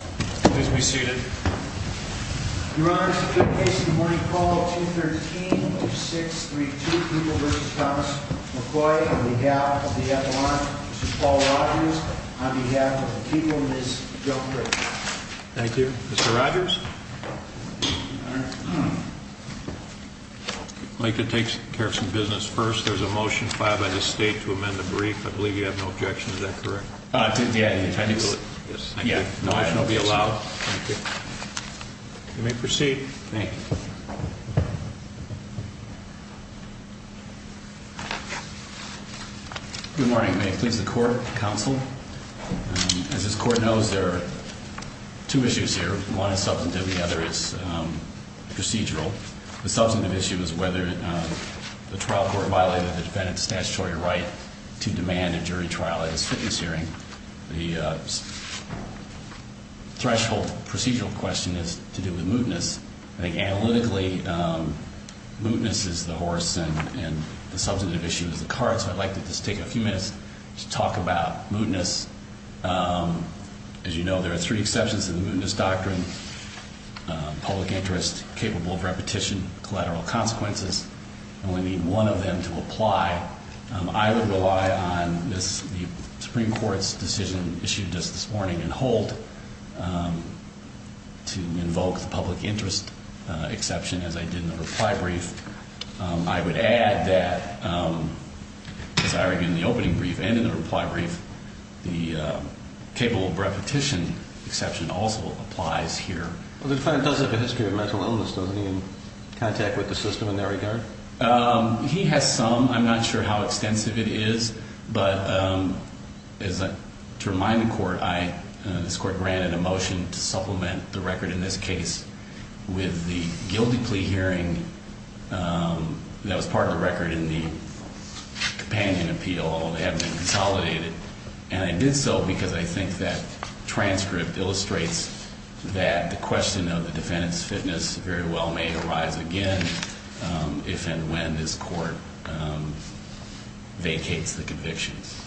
on behalf of the people, Ms. Joe Frick. Thank you. Mr. Rogers. I'd like to take care of some business first. There's a motion filed by the state to amend the brief. I believe you have no objection. Is that correct? Yeah, no action will be allowed. Thank you. You may proceed. Thank you. Good morning. May it please the court, counsel? As this court knows, there are two issues here. One is substantively, the other is procedural. The substantive issue is whether the trial court violated the defendant's statutory right to demand a jury trial at his fitness hearing. The threshold procedural question is to do with mootness. I think analytically, mootness is the horse and the substantive issue is the cart, so I'd like to just take a few minutes to talk about mootness. As you know, there are three exceptions to the mootness doctrine. Public interest, capable of repetition, collateral consequences. I only need one of them to apply. I would rely on the Supreme Court's decision issued just this morning in Holt to invoke the public interest exception as I did in the reply brief. I would add that, as I argued in the opening brief and in the reply brief, the capable of repetition exception also applies here. The defendant does have a history of mental illness, doesn't he, in contact with the system in that regard? He has some. I'm not sure how extensive it is, but to remind the court, this court granted a motion to supplement the record in this case with the guilty plea hearing that was part of the record in the companion appeal. They haven't been consolidated, and I did so because I think that transcript illustrates that the question of the defendant's fitness very well may arise again if and when this court vacates the convictions.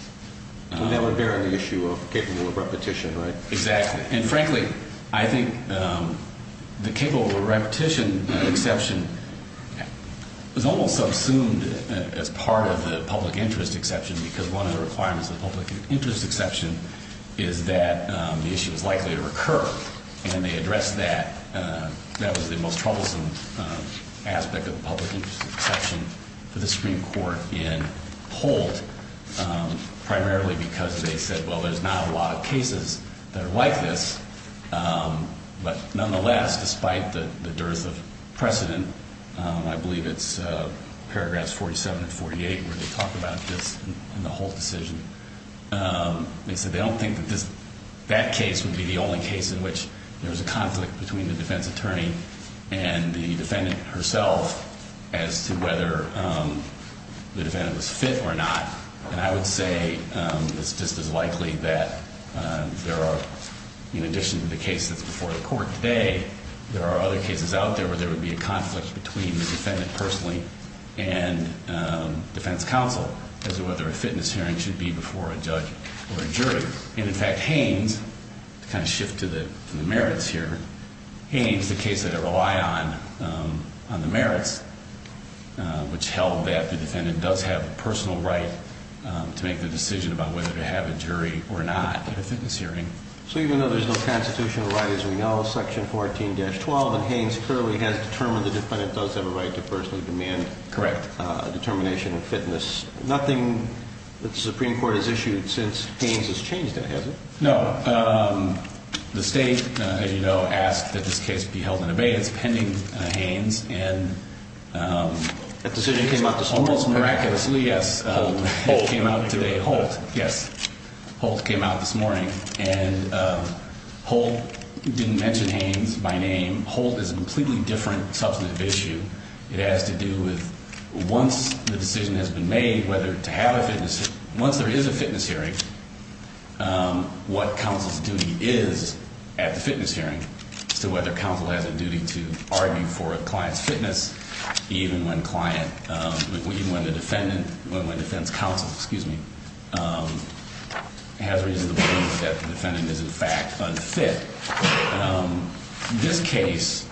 That would bear on the issue of capable of repetition, right? Exactly. And frankly, I think the capable of repetition exception was almost subsumed as part of the public interest exception because one of the requirements of the public interest exception is that the issue is likely to recur. And they addressed that. That was the most troublesome aspect of the public interest exception for the Supreme Court in Holt, primarily because they said, well, there's not a lot of cases that are like this. But nonetheless, despite the dearth of precedent, I believe it's paragraphs 47 and 48 where they talk about this in the Holt decision. They said they don't think that that case would be the only case in which there was a conflict between the defense attorney and the defendant herself as to whether the defendant was fit or not. And I would say it's just as likely that there are, in addition to the case that's before the court today, there are other cases out there where there would be a conflict between the defendant personally and defense counsel as to whether a fitness hearing should be before a judge or a jury. And in fact, Haynes, to kind of shift to the merits here, Haynes, the case that I rely on, on the merits, which held that the defendant does have a personal right to make the decision about whether to have a jury or not at a fitness hearing. So even though there's no constitutional right, as we know, Section 14-12 in Haynes clearly has determined the defendant does have a right to personally demand a determination of fitness. Nothing that the Supreme Court has issued since Haynes has changed that, has it? No. The state, as you know, asked that this case be held in abeyance pending Haynes. And that decision came out this morning? Almost miraculously, yes. Holt. It came out today. Holt, yes. Holt came out this morning. And Holt didn't mention Haynes by name. Holt is a completely different substantive issue. It has to do with once the decision has been made whether to have a fitness, once there is a fitness hearing, what counsel's duty is at the fitness hearing as to whether counsel has a duty to argue for a client's fitness, even when client, even when the defendant, when defense counsel, excuse me, has reason to believe that the defendant is in fact unfit. This case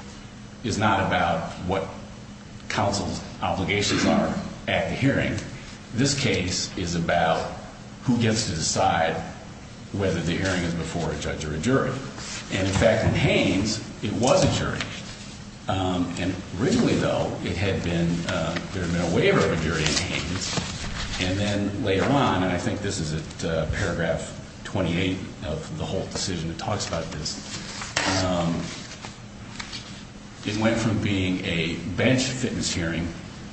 is not about what counsel's obligations are at the hearing. This case is about who gets to decide whether the hearing is before a judge or a jury. And, in fact, in Haynes, it was a jury. And originally, though, it had been, there had been a waiver of a jury in Haynes. And then later on, and I think this is at paragraph 28 of the Holt decision that talks about this, it went from being a bench fitness hearing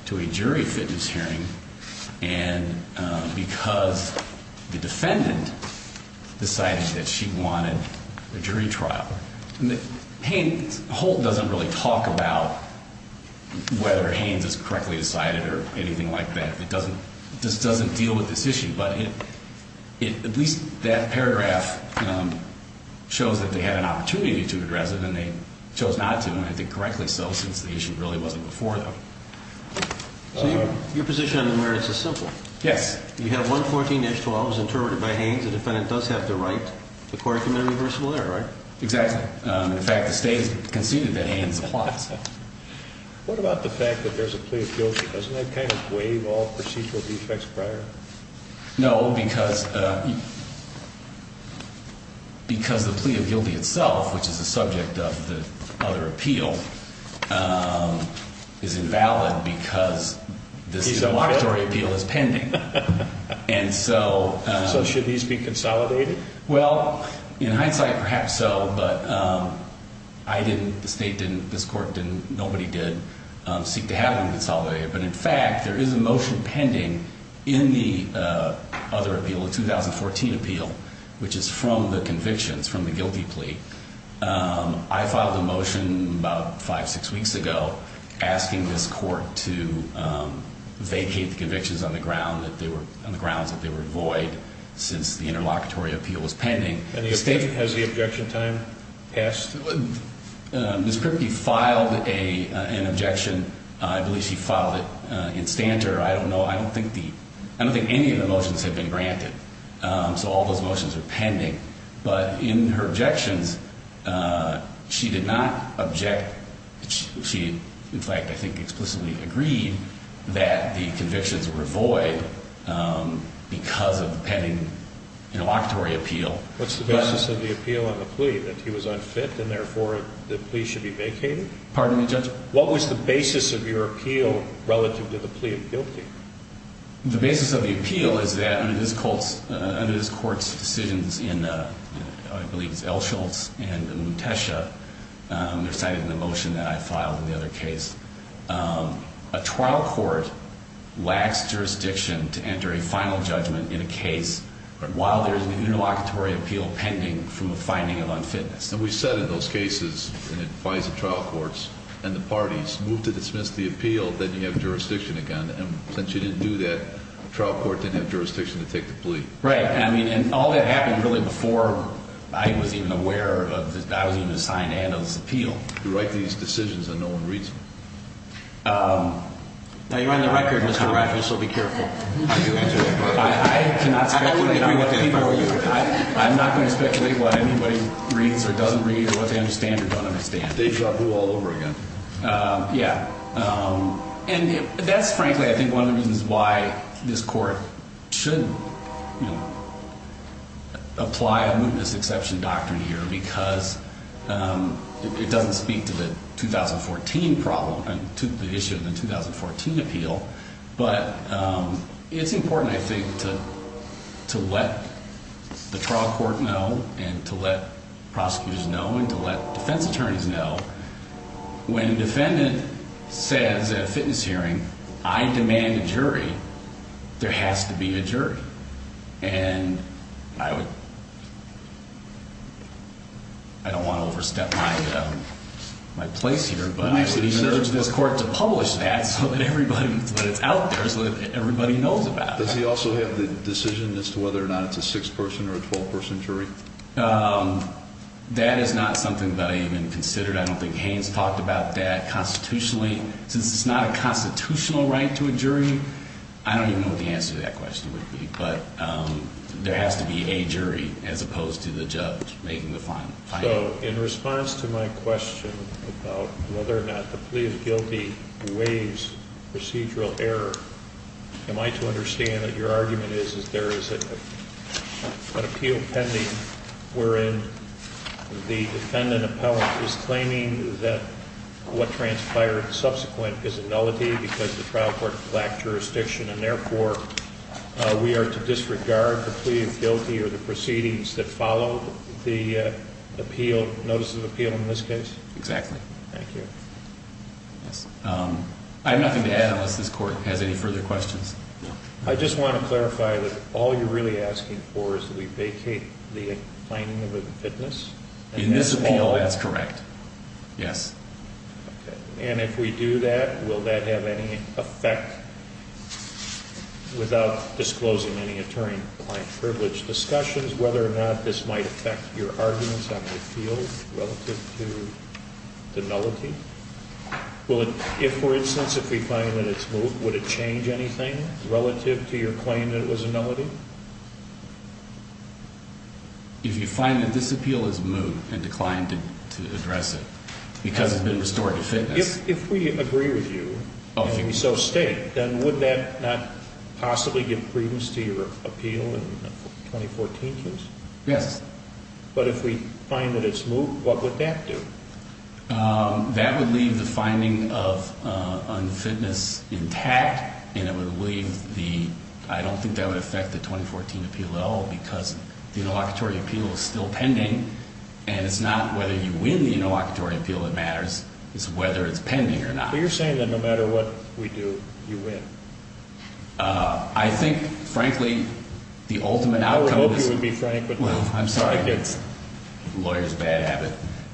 to a jury fitness hearing, and because the defendant decided that she wanted a jury trial. Haynes, Holt doesn't really talk about whether Haynes is correctly decided or anything like that. It doesn't, this doesn't deal with this issue. But it, at least that paragraph shows that they had an opportunity to address it, and they chose not to, and I think correctly so, since the issue really wasn't before them. So your position on the merits is simple. Yes. You have 114-12 as interpreted by Haynes. The defendant does have the right to court-committed reversible error, right? Exactly. In fact, the state has conceded that Haynes applies. What about the fact that there's a plea of guilty? Doesn't that kind of waive all procedural defects prior? No, because, because the plea of guilty itself, which is the subject of the other appeal, is invalid because this debauchery appeal is pending. And so- So should these be consolidated? Well, in hindsight, perhaps so, but I didn't, the state didn't, this court didn't, nobody did seek to have them consolidated. But in fact, there is a motion pending in the other appeal, the 2014 appeal, which is from the convictions, from the guilty plea. I filed a motion about five, six weeks ago asking this court to vacate the convictions on the ground that they were, on the grounds that they were void since the interlocutory appeal was pending. Has the objection time passed? Ms. Kripke filed an objection. I believe she filed it in Stanter. I don't know, I don't think the, I don't think any of the motions have been granted. So all those motions are pending. But in her objections, she did not object. She, in fact, I think explicitly agreed that the convictions were void because of the pending interlocutory appeal. What's the basis of the appeal on the plea, that he was unfit and therefore the plea should be vacated? Pardon me, Judge? What was the basis of your appeal relative to the plea of guilty? The basis of the appeal is that under this court's decisions in, I believe it's Elsholtz and Mutesha, they're cited in the motion that I filed in the other case. A trial court lacks jurisdiction to enter a final judgment in a case while there's an interlocutory appeal pending from a finding of unfitness. And we said in those cases, and it applies to trial courts and the parties, move to dismiss the appeal, then you have jurisdiction again. And since you didn't do that, the trial court didn't have jurisdiction to take the plea. Right. I mean, and all that happened really before I was even aware of, I was even assigned to handle this appeal. You write these decisions and no one reads them. Now, you're on the record, Mr. Rogers, so be careful. I do, Judge. I cannot speculate. I'm not going to speculate what anybody reads or doesn't read or what they understand or don't understand. They draw blue all over again. Yeah. And that's frankly, I think, one of the reasons why this court should apply a mootness exception doctrine here because it doesn't speak to the 2014 problem, to the issue of the 2014 appeal. But it's important, I think, to let the trial court know and to let prosecutors know and to let defense attorneys know. When a defendant says at a fitness hearing, I demand a jury, there has to be a jury. And I don't want to overstep my place here, but I would urge this court to publish that so that it's out there so that everybody knows about it. Does he also have the decision as to whether or not it's a 6-person or a 12-person jury? That is not something that I even considered. I don't think Haynes talked about that constitutionally. Since it's not a constitutional right to a jury, I don't even know what the answer to that question would be. But there has to be a jury as opposed to the judge making the finding. So, in response to my question about whether or not the plea of guilty waives procedural error, am I to understand that your argument is that there is an appeal pending wherein the defendant appellant is claiming that what transpired subsequent is a nullity because the trial court lacked jurisdiction. And therefore, we are to disregard the plea of guilty or the proceedings that follow the appeal, notice of appeal in this case? Exactly. Thank you. I have nothing to add unless this court has any further questions. I just want to clarify that all you're really asking for is that we vacate the finding of a fitness? In this appeal, that's correct. Yes. And if we do that, will that have any effect without disclosing any attorney-appointed privilege discussions whether or not this might affect your arguments on the appeal relative to the nullity? If, for instance, if we find that it's moot, would it change anything relative to your claim that it was a nullity? If you find that this appeal is moot and declined to address it because it's been restored to fitness. If we agree with you, if you so state, then would that not possibly give credence to your appeal in the 2014 case? Yes. But if we find that it's moot, what would that do? That would leave the finding of unfitness intact and it would leave the, I don't think that would affect the 2014 appeal at all because the interlocutory appeal is still pending and it's not whether you win the interlocutory appeal that matters. What matters is whether it's pending or not. But you're saying that no matter what we do, you win. I think, frankly, the ultimate outcome of this... I would hope you would be frank, but... I'm sorry, lawyer's bad habit.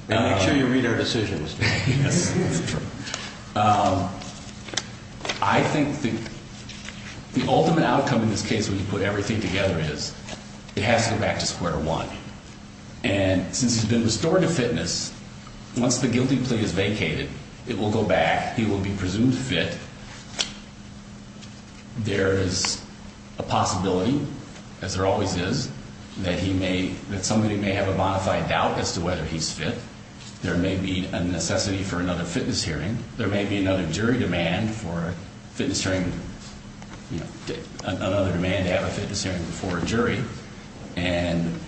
Make sure you read our decisions. Yes, that's true. I think the ultimate outcome in this case when you put everything together is it has to go back to square one. And since he's been restored to fitness, once the guilty plea is vacated, it will go back. He will be presumed fit. There is a possibility, as there always is, that he may, that somebody may have a bonafide doubt as to whether he's fit. There may be a necessity for another fitness hearing. There may be another jury demand for a fitness hearing, another demand to have a fitness hearing before a jury. And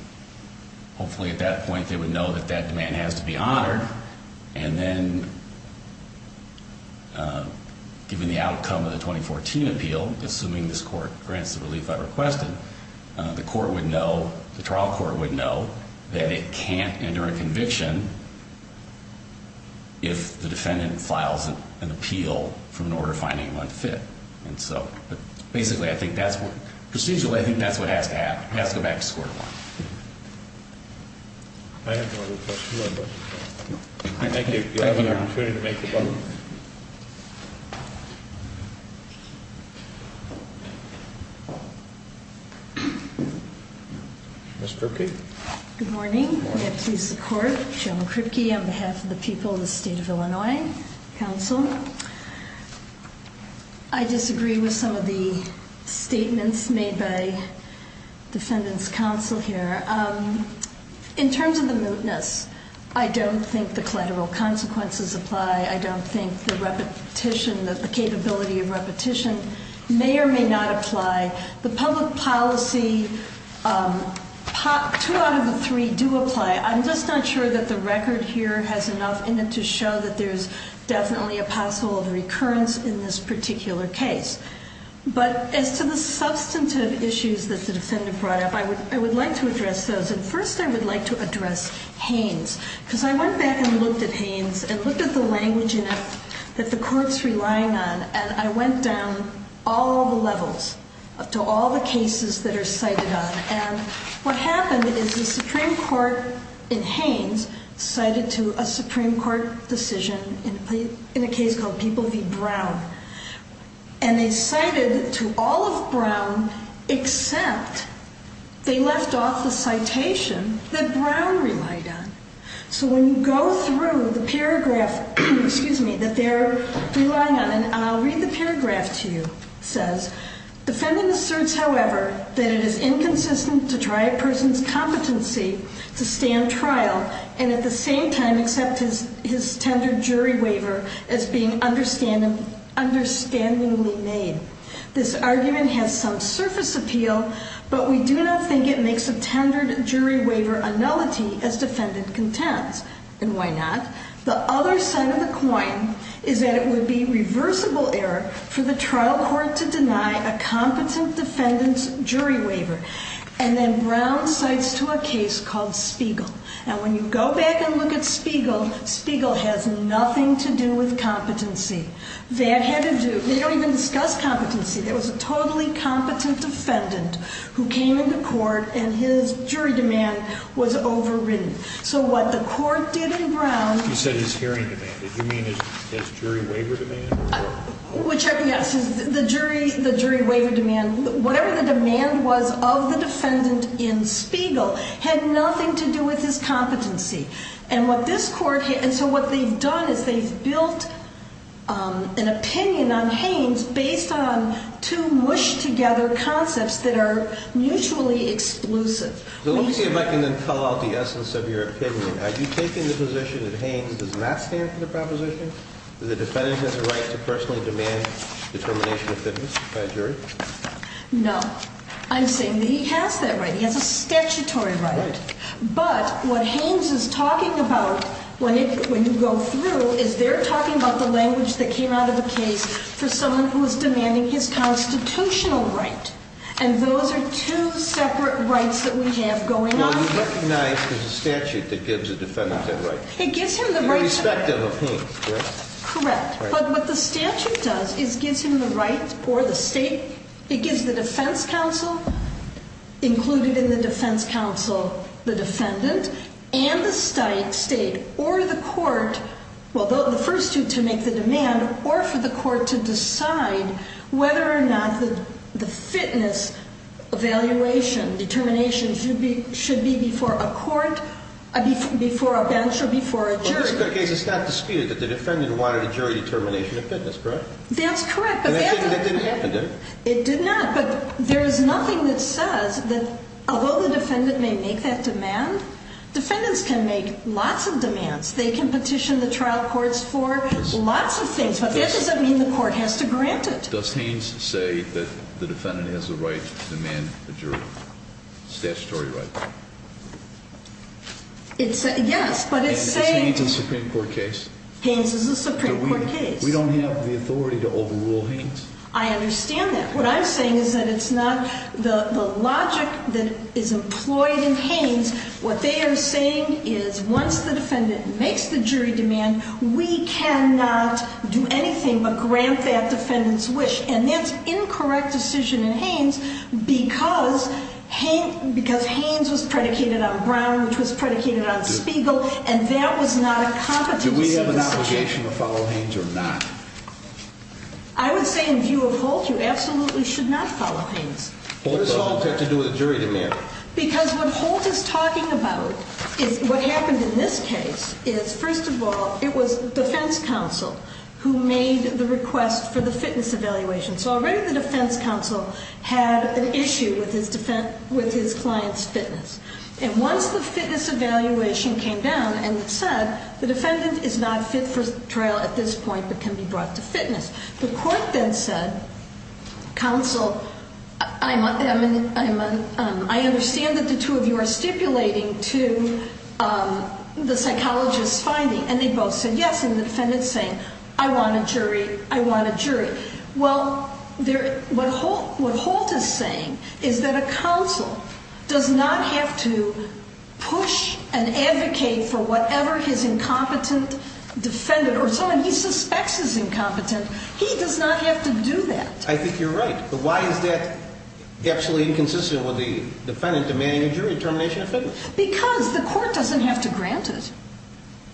hopefully at that point they would know that that demand has to be honored. And then given the outcome of the 2014 appeal, assuming this court grants the relief I requested, the court would know, the trial court would know that it can't enter a conviction if the defendant files an appeal for an order finding him unfit. And so, but basically I think that's what, procedurally I think that's what has to happen. It has to go back to square one. I have no other questions. Thank you. Do you have an opportunity to make a comment? Ms. Kripke? Good morning. May I please support? Joan Kripke on behalf of the people of the state of Illinois. Counsel. I disagree with some of the statements made by defendant's counsel here. In terms of the mootness, I don't think the collateral consequences apply. I don't think the repetition, the capability of repetition may or may not apply. The public policy, two out of the three do apply. I'm just not sure that the record here has enough in it to show that there's definitely a possible recurrence in this particular case. But as to the substantive issues that the defendant brought up, I would like to address those. And first I would like to address Haynes. Because I went back and looked at Haynes and looked at the language in it that the court's relying on. And I went down all the levels up to all the cases that are cited on. And what happened is the Supreme Court in Haynes cited to a Supreme Court decision in a case called People v. Brown. And they cited to all of Brown except they left off the citation that Brown relied on. So when you go through the paragraph that they're relying on, and I'll read the paragraph to you. It says, defendant asserts, however, that it is inconsistent to try a person's competency to stand trial. And at the same time, accept his tender jury waiver as being understandingly made. This argument has some surface appeal, but we do not think it makes a tendered jury waiver a nullity as defendant contends. And why not? The other side of the coin is that it would be reversible error for the trial court to deny a competent defendant's jury waiver. And then Brown cites to a case called Spiegel. And when you go back and look at Spiegel, Spiegel has nothing to do with competency. They don't even discuss competency. There was a totally competent defendant who came into court and his jury demand was overridden. So what the court did in Brown. You said his hearing demand. Did you mean his jury waiver demand? Which, yes, the jury waiver demand. Whatever the demand was of the defendant in Spiegel had nothing to do with his competency. And what this court, and so what they've done is they've built an opinion on Haynes based on two mushed together concepts that are mutually exclusive. So let me see if I can then call out the essence of your opinion. Are you taking the position that Haynes does not stand for the proposition that the defendant has a right to personally demand determination of fitness by a jury? No. I'm saying that he has that right. He has a statutory right. But what Haynes is talking about when you go through is they're talking about the language that came out of a case for someone who is demanding his constitutional right. And those are two separate rights that we have going on. Well, you recognize there's a statute that gives a defendant that right. It gives him the right. Irrespective of Haynes, correct? Correct. But what the statute does is gives him the right or the state. It gives the defense counsel, included in the defense counsel, the defendant and the state or the court, well, the first two to make the demand or for the court to decide whether or not the fitness evaluation determination should be before a court, before a bench or before a jury. In this particular case, it's not disputed that the defendant wanted a jury determination of fitness, correct? That's correct. It didn't happen, did it? It did not. But there is nothing that says that although the defendant may make that demand, defendants can make lots of demands. They can petition the trial courts for lots of things. But that doesn't mean the court has to grant it. Does Haynes say that the defendant has the right to demand a jury statutory right? Yes, but it's saying— Is Haynes a Supreme Court case? Haynes is a Supreme Court case. We don't have the authority to overrule Haynes. I understand that. What I'm saying is that it's not the logic that is employed in Haynes. What they are saying is once the defendant makes the jury demand, we cannot do anything but grant that defendant's wish. And that's incorrect decision in Haynes because Haynes was predicated on Brown, which was predicated on Spiegel, and that was not a competency decision. Do we have an obligation to follow Haynes or not? I would say in view of Holt, you absolutely should not follow Haynes. What does Holt have to do with a jury demand? Because what Holt is talking about is what happened in this case is first of all, it was defense counsel who made the request for the fitness evaluation. So already the defense counsel had an issue with his client's fitness. And once the fitness evaluation came down and said the defendant is not fit for trial at this point but can be brought to fitness, the court then said, counsel, I understand that the two of you are stipulating to the psychologist's finding, and they both said yes, and the defendant's saying, I want a jury, I want a jury. Well, what Holt is saying is that a counsel does not have to push and advocate for whatever his incompetent defendant or someone he suspects is incompetent. He does not have to do that. I think you're right. But why is that absolutely inconsistent with the defendant demanding a jury determination of fitness? Because the court doesn't have to grant it.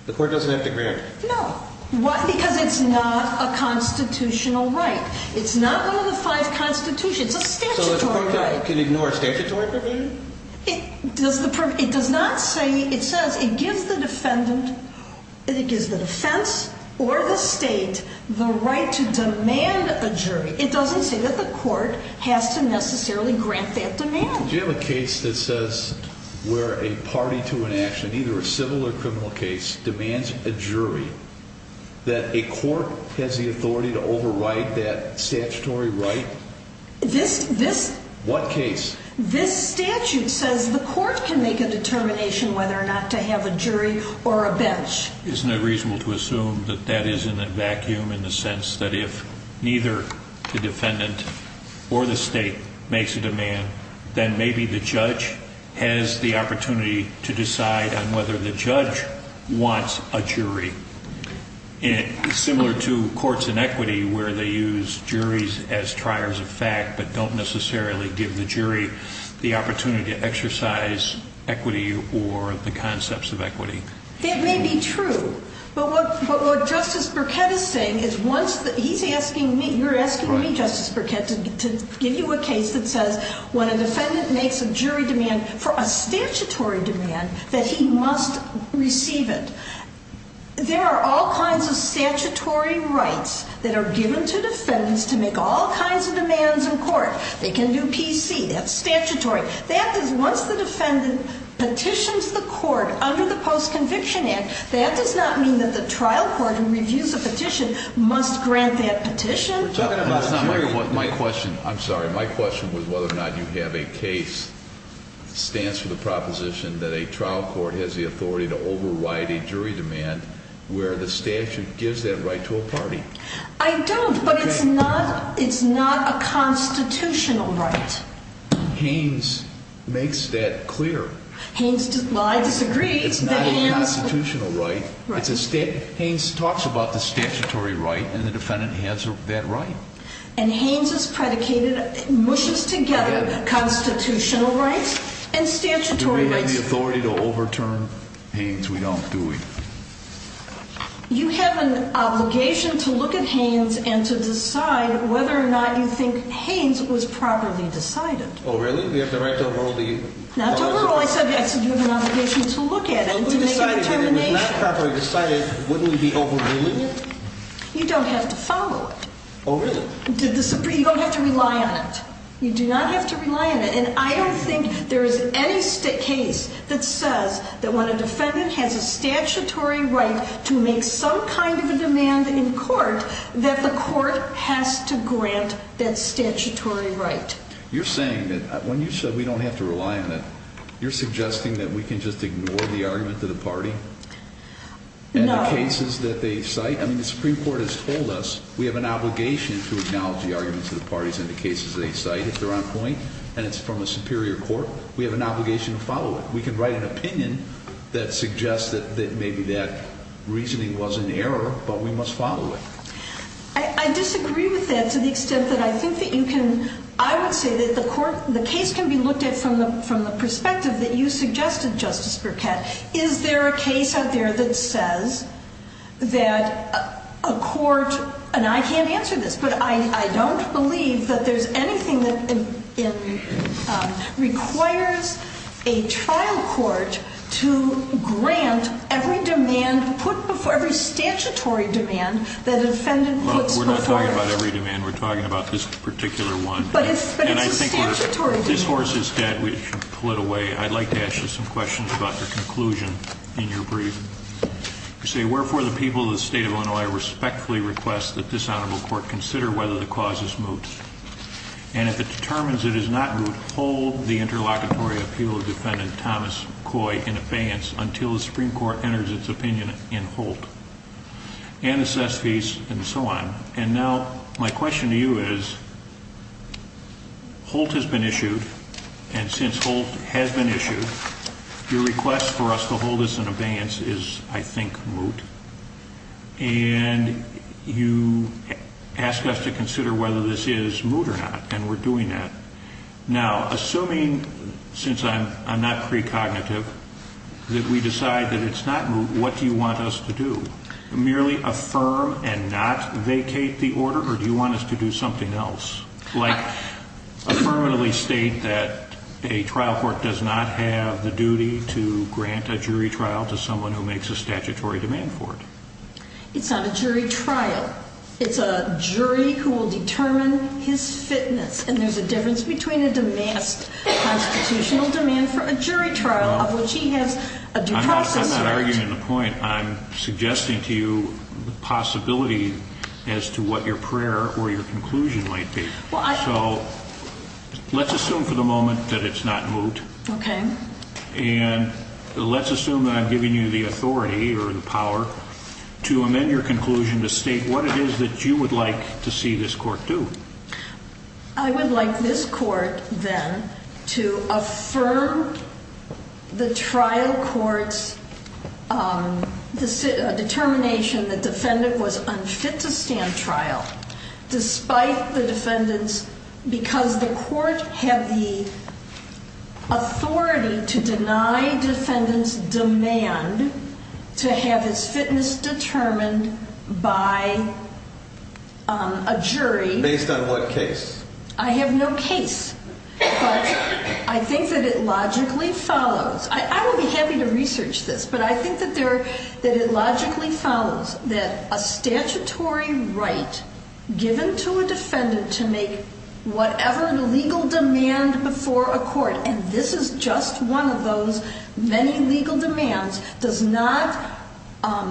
The court doesn't have to grant it? No. Why? Because it's not a constitutional right. It's not one of the five constitutions. It's a statutory right. So the court can ignore a statutory provision? It does not say, it says it gives the defendant, it gives the defense or the state the right to demand a jury. It doesn't say that the court has to necessarily grant that demand. Do you have a case that says where a party to an action, either a civil or criminal case, demands a jury that a court has the authority to override that statutory right? This, this. What case? This statute says the court can make a determination whether or not to have a jury or a bench. Isn't it reasonable to assume that that is in a vacuum in the sense that if neither the defendant or the state makes a demand, then maybe the judge has the opportunity to decide on whether the judge wants a jury, similar to courts in equity where they use juries as triers of fact but don't necessarily give the jury the opportunity to exercise equity or the concepts of equity. That may be true. But what Justice Burkett is saying is once the, he's asking me, you're asking me, Justice Burkett, to give you a case that says when a defendant makes a jury demand for a statutory demand that he must receive it. There are all kinds of statutory rights that are given to defendants to make all kinds of demands in court. They can do PC, that's statutory. That is, once the defendant petitions the court under the Post-Conviction Act, that does not mean that the trial court who reviews a petition must grant that petition. My question, I'm sorry, my question was whether or not you have a case that stands for the proposition that a trial court has the authority to override a jury demand where the statute gives that right to a party. I don't, but it's not, it's not a constitutional right. Haynes makes that clear. Haynes disagrees. It's not a constitutional right. It's a, Haynes talks about the statutory right and the defendant has that right. And Haynes has predicated, mushes together constitutional rights and statutory rights. Do we have the authority to overturn Haynes? We don't, do we? You have an obligation to look at Haynes and to decide whether or not you think Haynes was properly decided. Oh, really? We have the right to overrule the... Not to overrule, I said you have an obligation to look at it and to make a determination. If it was not properly decided, wouldn't we be overruling it? You don't have to follow it. Oh, really? You don't have to rely on it. You do not have to rely on it. And I don't think there is any case that says that when a defendant has a statutory right to make some kind of a demand in court, that the court has to grant that statutory right. You're saying that, when you said we don't have to rely on it, you're suggesting that we can just ignore the argument of the party? No. And the cases that they cite? I mean, the Supreme Court has told us we have an obligation to acknowledge the arguments of the parties and the cases they cite, if they're on point, and it's from a superior court. We have an obligation to follow it. We can write an opinion that suggests that maybe that reasoning was in error, but we must follow it. I disagree with that to the extent that I think that you can... I would say that the case can be looked at from the perspective that you suggested, Justice Burkett. Is there a case out there that says that a court, and I can't answer this, but I don't believe that there's anything that requires a trial court to grant every statutory demand that a defendant puts before it? We're not talking about every demand. We're talking about this particular one. But it's a statutory demand. If this horse is dead, we should pull it away. I'd like to ask you some questions about the conclusion in your brief. You say, wherefore, the people of the state of Illinois respectfully request that this honorable court consider whether the cause is moot, and if it determines it is not moot, hold the interlocutory appeal of defendant Thomas Coy in abeyance until the Supreme Court enters its opinion in Holt, and assess fees, and so on. And now my question to you is, Holt has been issued, and since Holt has been issued, your request for us to hold this in abeyance is, I think, moot. And you ask us to consider whether this is moot or not, and we're doing that. Now, assuming, since I'm not precognitive, that we decide that it's not moot, what do you want us to do? Merely affirm and not vacate the order, or do you want us to do something else? Like, affirmatively state that a trial court does not have the duty to grant a jury trial to someone who makes a statutory demand for it. It's not a jury trial. It's a jury who will determine his fitness. And there's a difference between a demanced constitutional demand for a jury trial, of which he has a due process right. I'm not arguing the point. I'm suggesting to you the possibility as to what your prayer or your conclusion might be. So let's assume for the moment that it's not moot. Okay. And let's assume that I'm giving you the authority or the power to amend your conclusion to state what it is that you would like to see this court do. I would like this court, then, to affirm the trial court's determination the defendant was unfit to stand trial despite the defendant's, because the court had the authority to deny defendant's demand to have his fitness determined by a jury. Based on what case? I have no case, but I think that it logically follows. I would be happy to research this, but I think that it logically follows that a statutory right given to a defendant to make whatever legal demand before a court, and this is just one of those many legal demands, does not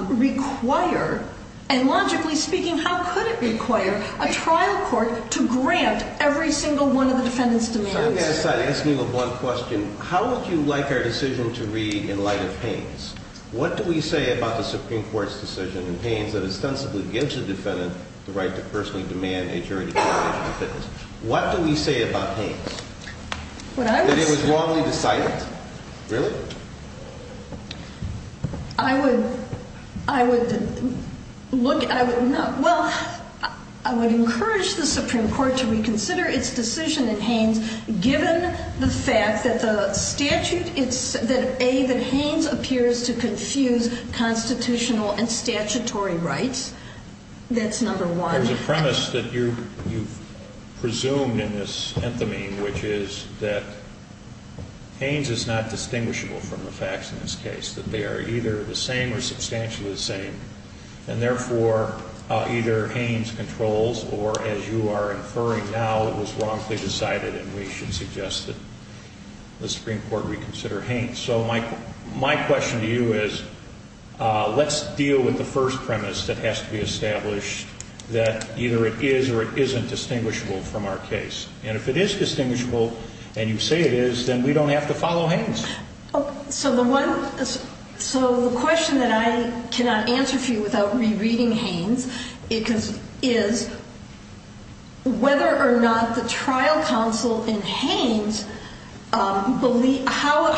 require, and logically speaking, how could it require, a trial court to grant every single one of the defendant's demands. I'm going to ask you a blunt question. How would you like our decision to read in light of Haynes? What do we say about the Supreme Court's decision in Haynes that ostensibly gives the defendant the right to personally demand a jury determination of fitness? What do we say about Haynes? That it was wrongly decided? Really? Well, I would encourage the Supreme Court to reconsider its decision in Haynes given the fact that the statute, that A, that Haynes appears to confuse constitutional and statutory rights. That's number one. There's a premise that you've presumed in this anthemine, which is that Haynes is not distinguishable from the facts in this case, that they are either the same or substantially the same, and therefore, either Haynes controls or, as you are inferring now, it was wrongly decided and we should suggest that the Supreme Court reconsider Haynes. So my question to you is let's deal with the first premise that has to be established, that either it is or it isn't distinguishable from our case. And if it is distinguishable and you say it is, then we don't have to follow Haynes. So the question that I cannot answer for you without rereading Haynes is whether or not the trial counsel in Haynes, how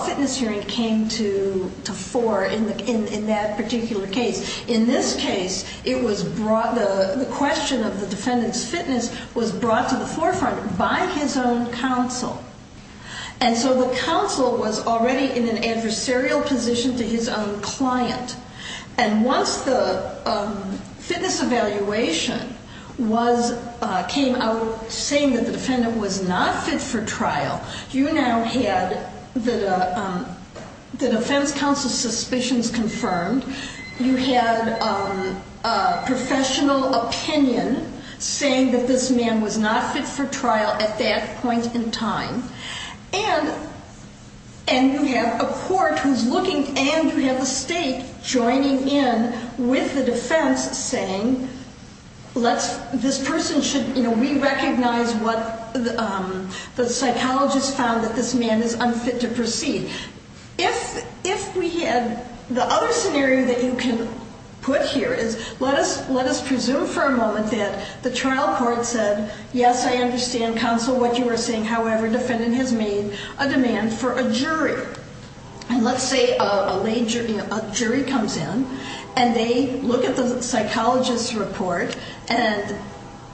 a fitness hearing came to fore in that particular case. In this case, the question of the defendant's fitness was brought to the forefront by his own counsel. And so the counsel was already in an adversarial position to his own client. And once the fitness evaluation came out saying that the defendant was not fit for trial, you now had the defense counsel's suspicions confirmed. You had professional opinion saying that this man was not fit for trial at that point in time. And you have a court who's looking and you have the state joining in with the defense saying let's, this person should, you know, we recognize what the psychologist found that this man is unfit to proceed. If we had the other scenario that you can put here is let us presume for a moment that the trial court said, yes, I understand, counsel, what you were saying. However, defendant has made a demand for a jury. And let's say a jury comes in and they look at the psychologist's report and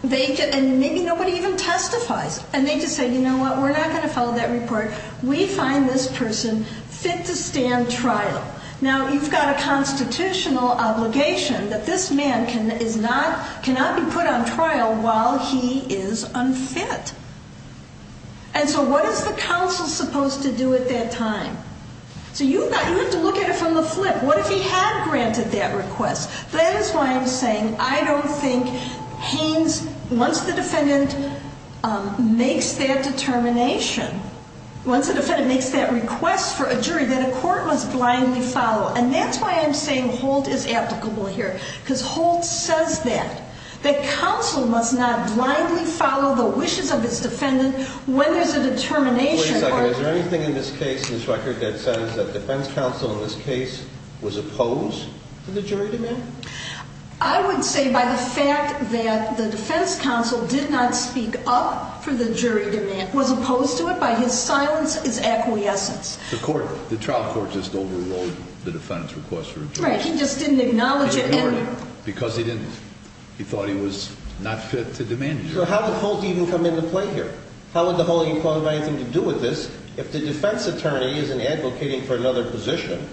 maybe nobody even testifies. And they just say, you know what, we're not going to follow that report. We find this person fit to stand trial. Now, you've got a constitutional obligation that this man cannot be put on trial while he is unfit. And so what is the counsel supposed to do at that time? So you have to look at it from the flip. What if he had granted that request? That is why I'm saying I don't think Haynes, once the defendant makes that determination, once the defendant makes that request for a jury, that a court must blindly follow. And that's why I'm saying Holt is applicable here. Because Holt says that, that counsel must not blindly follow the wishes of its defendant when there's a determination. Wait a second. Is there anything in this case, in this record, that says that defense counsel in this case was opposed to the jury demand? I would say by the fact that the defense counsel did not speak up for the jury demand, was opposed to it by his silence, his acquiescence. The trial court just overruled the defendant's request for a jury. Right. He just didn't acknowledge it. Because he didn't. He thought he was not fit to demand it. So how did Holt even come into play here? How would the Holeen Court have anything to do with this if the defense attorney isn't advocating for another position?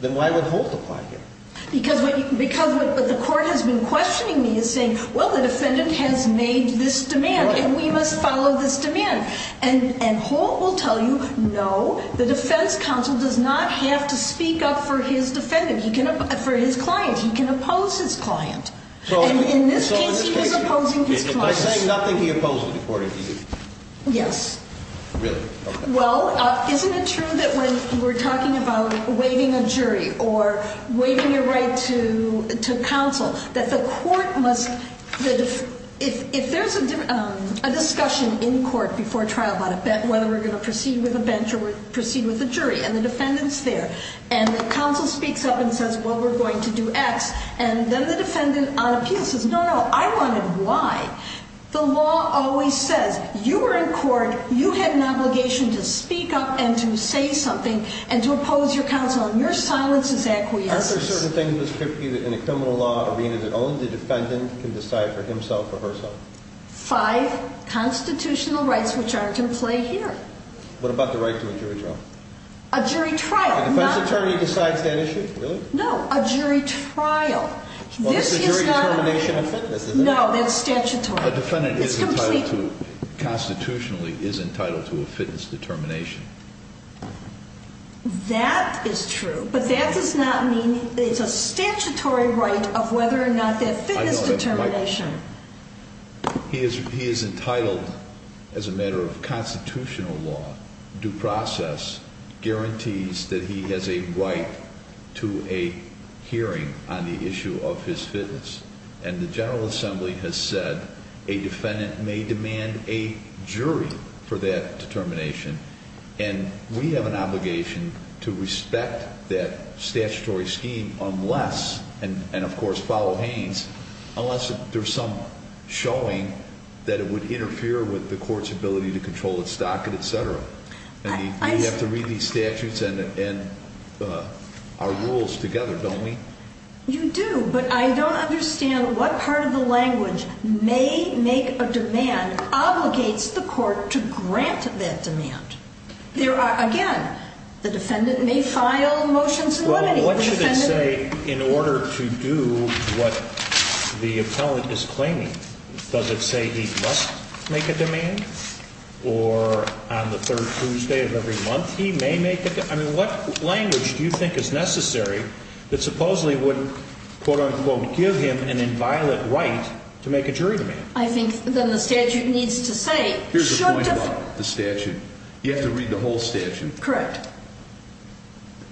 Then why would Holt apply here? Because what the court has been questioning me is saying, well, the defendant has made this demand and we must follow this demand. And Holt will tell you, no, the defense counsel does not have to speak up for his defendant, for his client. He can oppose his client. And in this case he was opposing his client. By saying nothing, he opposed it, according to you? Yes. Really? Okay. Well, isn't it true that when we're talking about waiving a jury or waiving a right to counsel, that the court must, if there's a discussion in court before trial about whether we're going to proceed with a bench or proceed with a jury, and the defendant's there, and the counsel speaks up and says, well, we're going to do X, and then the defendant on appeal says, no, no, I wanted Y. The law always says, you were in court, you had an obligation to speak up and to say something and to oppose your counsel, and your silence is acquiescence. Are there certain things in the criminal law arena that only the defendant can decide for himself or herself? Five constitutional rights which aren't in play here. What about the right to a jury trial? A jury trial. The defense attorney decides that issue? No, a jury trial. Well, it's a jury determination of fitness, isn't it? No, that's statutory. A defendant is entitled to, constitutionally, is entitled to a fitness determination. That is true, but that does not mean it's a statutory right of whether or not that fitness determination. He is entitled, as a matter of constitutional law, due process, guarantees that he has a right to a hearing on the issue of his fitness, and the General Assembly has said a defendant may demand a jury for that determination, and we have an obligation to respect that statutory scheme unless, and of course follow Haynes, unless there's some showing that it would interfere with the court's ability to control its docket, etc. We have to read these statutes and our rules together, don't we? You do, but I don't understand what part of the language may make a demand obligates the court to grant that demand. There are, again, the defendant may file motions in limiting. Well, what should it say in order to do what the appellant is claiming? Does it say he must make a demand, or on the third Tuesday of every month he may make a demand? I mean, what language do you think is necessary that supposedly would, quote-unquote, give him an inviolate right to make a jury demand? I think that the statute needs to say... Here's the point about the statute. You have to read the whole statute. Correct.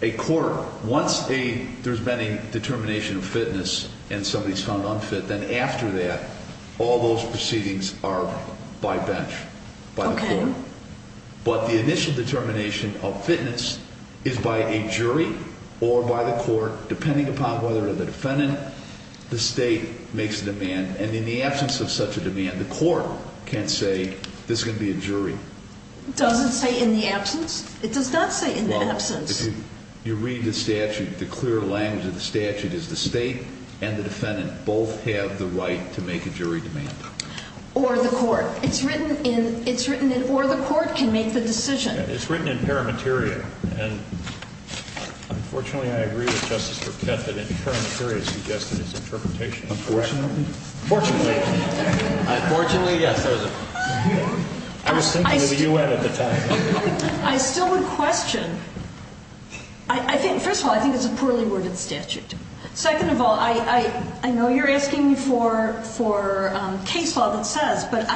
A court, once there's been a determination of fitness and somebody's found unfit, then after that, all those proceedings are by bench, by the court. Okay. But the initial determination of fitness is by a jury or by the court, depending upon whether the defendant, the state, makes a demand. And in the absence of such a demand, the court can't say, this is going to be a jury. It doesn't say in the absence? It does not say in the absence. Well, if you read the statute, the clear language of the statute is the state and the defendant both have the right to make a jury demand. Or the court. It's written in... Or the court can make the decision. It's written in Parameteria. And unfortunately, I agree with Justice Burkett that Parameteria suggested his interpretation was correct. Unfortunately? Fortunately. Unfortunately, yes. I was thinking of the U.N. at the time. I still would question... First of all, I think it's a poorly worded statute. Second of all, I know you're asking me for case law that says, but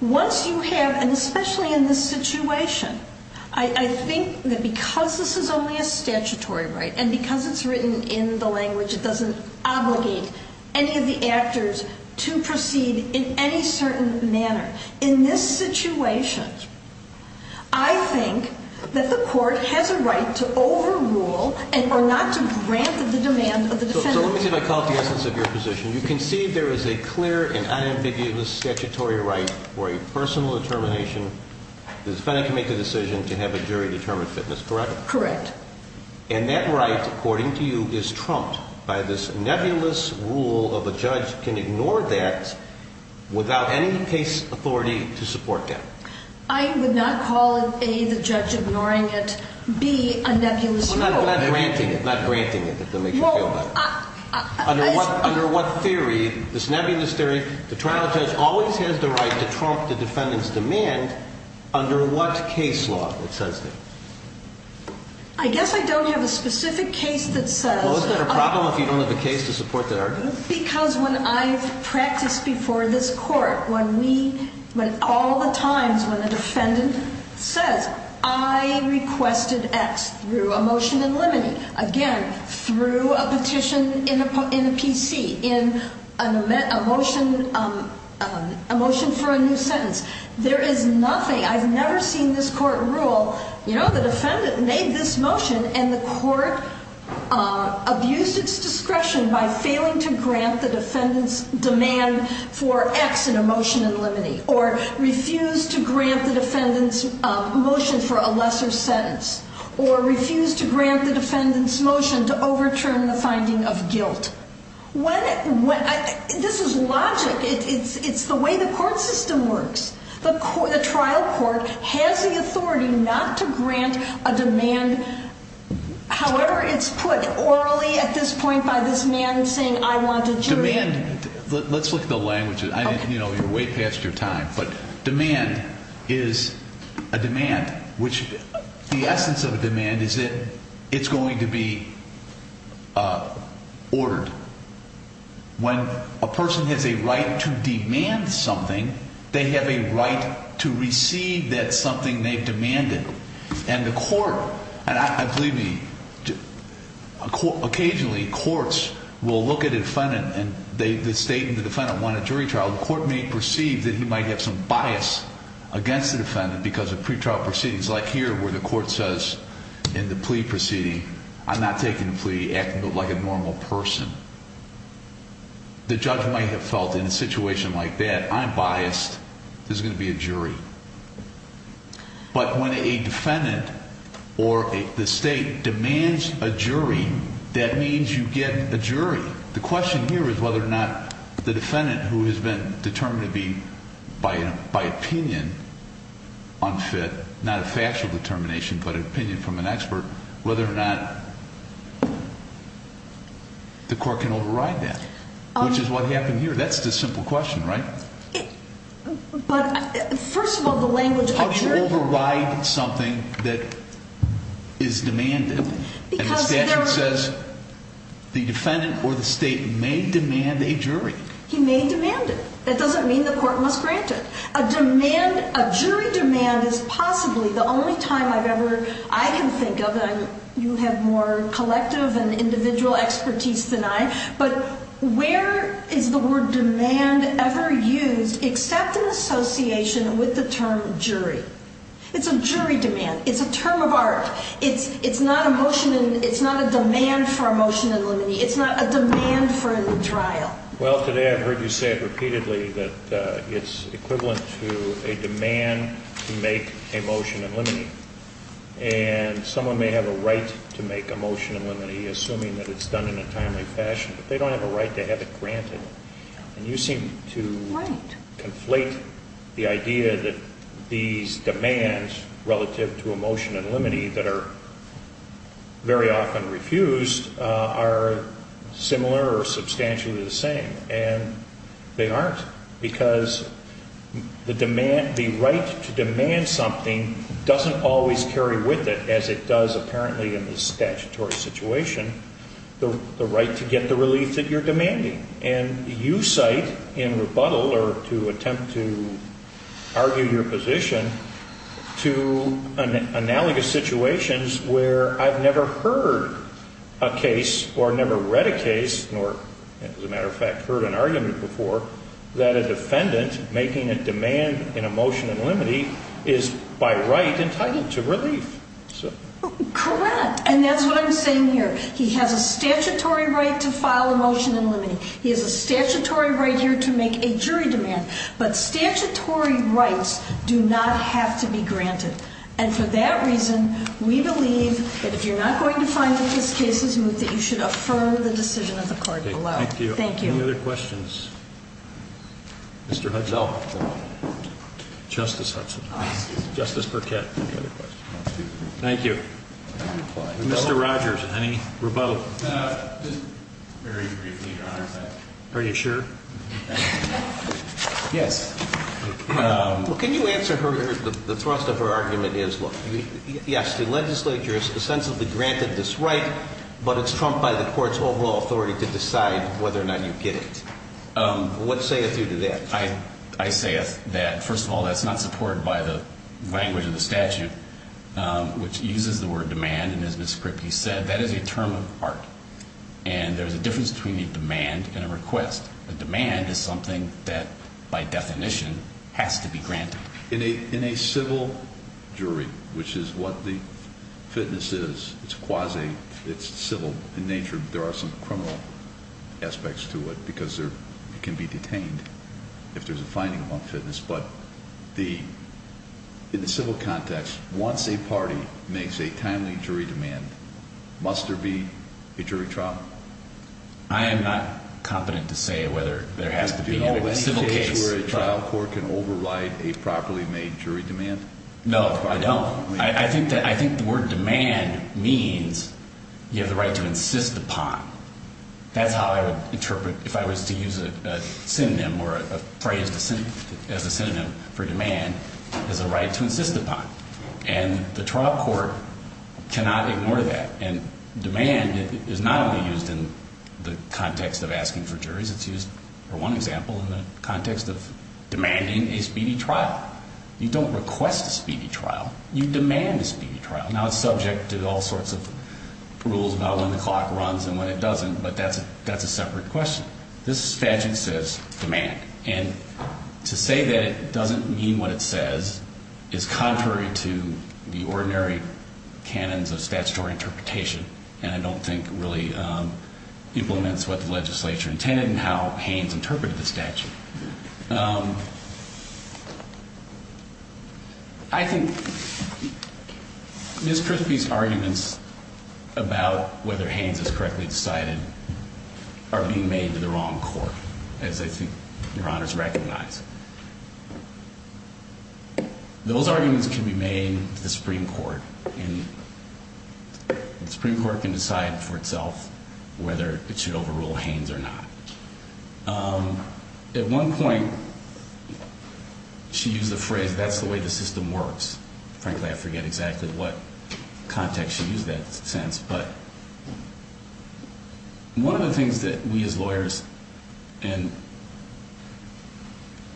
once you have, and especially in this situation, I think that because this is only a statutory right, and because it's written in the language, it doesn't obligate any of the actors to proceed in any certain manner. In this situation, I think that the court has a right to overrule or not to grant the demand of the defendant. So let me see if I caught the essence of your position. You can see there is a clear and unambiguous statutory right for a personal determination. The defendant can make a decision to have a jury determine fitness, correct? Correct. And that right, according to you, is trumped by this nebulous rule of a judge can ignore that without any case authority to support that. I would not call it, A, the judge ignoring it, B, a nebulous rule. Not granting it, not granting it, if that makes you feel better. Under what theory, this nebulous theory, the trial judge always has the right to trump the defendant's demand, under what case law it says that? I guess I don't have a specific case that says that. Well, is that a problem if you don't have a case to support that argument? Because when I've practiced before this court, when we, when all the times when a defendant says, I requested X through a motion in limine, again, through a petition in a PC, in a motion for a new sentence, there is nothing, I've never seen this court rule, you know, the defendant made this motion and the court abused its discretion by failing to grant the defendant's demand for X in a motion in limine, or refused to grant the defendant's motion for a lesser sentence, or refused to grant the defendant's motion to overturn the finding of guilt. When, this is logic, it's the way the court system works. The trial court has the authority not to grant a demand, however it's put orally at this point by this man saying I want a jury. Demand, let's look at the language, you know, you're way past your time, but demand is a demand, which the essence of a demand is that it's going to be ordered. When a person has a right to demand something, they have a right to receive that something they've demanded. And the court, and I believe, occasionally courts will look at a defendant and the state and the defendant want a jury trial, the court may perceive that he might have some bias against the defendant because of pretrial proceedings, like here where the court says in the plea proceeding, I'm not taking the plea, acting like a normal person. The judge might have felt in a situation like that, I'm biased, there's going to be a jury. But when a defendant or the state demands a jury, that means you get a jury. The question here is whether or not the defendant who has been determined to be, by opinion, unfit, not a factual determination, but an opinion from an expert, whether or not the court can override that, which is what happened here. That's the simple question, right? But first of all, the language, a jury can override something that is demanded. And the statute says the defendant or the state may demand a jury. He may demand it. That doesn't mean the court must grant it. A jury demand is possibly the only time I've ever, I can think of, and you have more collective and individual expertise than I, but where is the word demand ever used except in association with the term jury? It's a jury demand. It's a term of art. It's not a motion, it's not a demand for a motion in limine. It's not a demand for a trial. Well, today I've heard you say it repeatedly, that it's equivalent to a demand to make a motion in limine. And someone may have a right to make a motion in limine, assuming that it's done in a timely fashion, but they don't have a right to have it granted. And you seem to conflate the idea that these demands relative to a motion in limine that are very often refused are similar or substantially the same. And they aren't, because the right to demand something doesn't always carry with it, as it does apparently in the statutory situation, the right to get the relief that you're demanding. And you cite in rebuttal or to attempt to argue your position to analogous situations where I've never heard a case or never read a case, nor as a matter of fact heard an argument before, that a defendant making a demand in a motion in limine is by right entitled to relief. Correct. And that's what I'm saying here. He has a statutory right to file a motion in limine. He has a statutory right here to make a jury demand. But statutory rights do not have to be granted. And for that reason, we believe that if you're not going to find that this case is moved, that you should affirm the decision of the court below. Thank you. Thank you. Any other questions? Mr. Hudson. No. Justice Hudson. Justice Burkett. Any other questions? Thank you. Mr. Rogers. Any rebuttal? Just very briefly, Your Honor. Are you sure? Yes. Well, can you answer her? The thrust of her argument is, look, yes, the legislature has ostensibly granted this right, but it's trumped by the court's overall authority to decide whether or not you get it. What sayeth you to that? I say that, first of all, that's not supported by the language of the statute, which uses the word demand. And as Ms. Kripke said, that is a term of art. And there's a difference between a demand and a request. A demand is something that, by definition, has to be granted. In a civil jury, which is what the fitness is, it's quasi, it's civil in nature, there are some criminal aspects to it because it can be detained if there's a finding on fitness. But in the civil context, once a party makes a timely jury demand, must there be a jury trial? I am not competent to say whether there has to be a civil case. Is there a case where a trial court can override a properly made jury demand? No, I don't. I think the word demand means you have the right to insist upon. That's how I would interpret, if I was to use a synonym or a phrase as a synonym for demand, as a right to insist upon. And the trial court cannot ignore that. And demand is not only used in the context of asking for juries. It's used, for one example, in the context of demanding a speedy trial. You don't request a speedy trial. You demand a speedy trial. Now, it's subject to all sorts of rules about when the clock runs and when it doesn't, but that's a separate question. This statute says demand. And to say that it doesn't mean what it says is contrary to the ordinary canons of statutory interpretation, and I don't think really implements what the legislature intended and how Haynes interpreted the statute. I think Ms. Christie's arguments about whether Haynes is correctly decided are being made to the wrong court, as I think Your Honors recognize. Those arguments can be made to the Supreme Court, and the Supreme Court can decide for itself whether it should overrule Haynes or not. At one point, she used the phrase, that's the way the system works. Frankly, I forget exactly what context she used that sense. But one of the things that we as lawyers and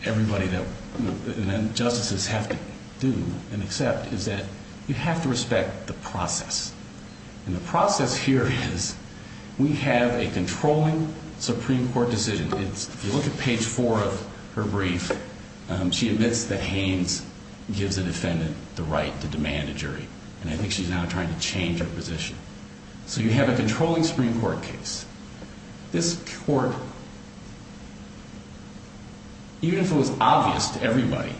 everybody that justices have to do and accept is that you have to respect the process. And the process here is we have a controlling Supreme Court decision. If you look at page four of her brief, she admits that Haynes gives the defendant the right to demand a jury. And I think she's now trying to change her position. So you have a controlling Supreme Court case. This court, even if it was obvious to everybody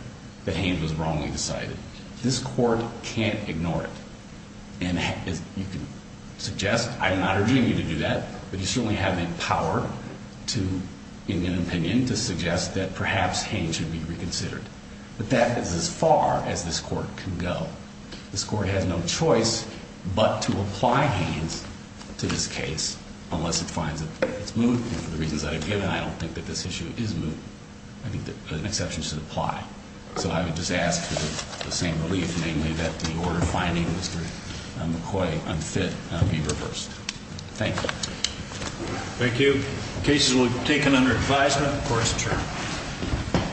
that Haynes was wrongly decided, this court can't ignore it. And you can suggest, I'm not urging you to do that, but you certainly have the power to, in your opinion, to suggest that perhaps Haynes should be reconsidered. But that is as far as this court can go. This court has no choice but to apply Haynes to this case unless it finds that it's moot. And for the reasons I have given, I don't think that this issue is moot. I think that an exception should apply. So I would just ask for the same relief, namely that the order of finding McCoy unfit be reversed. Thank you. Thank you. Cases will be taken under advisement. Court is adjourned.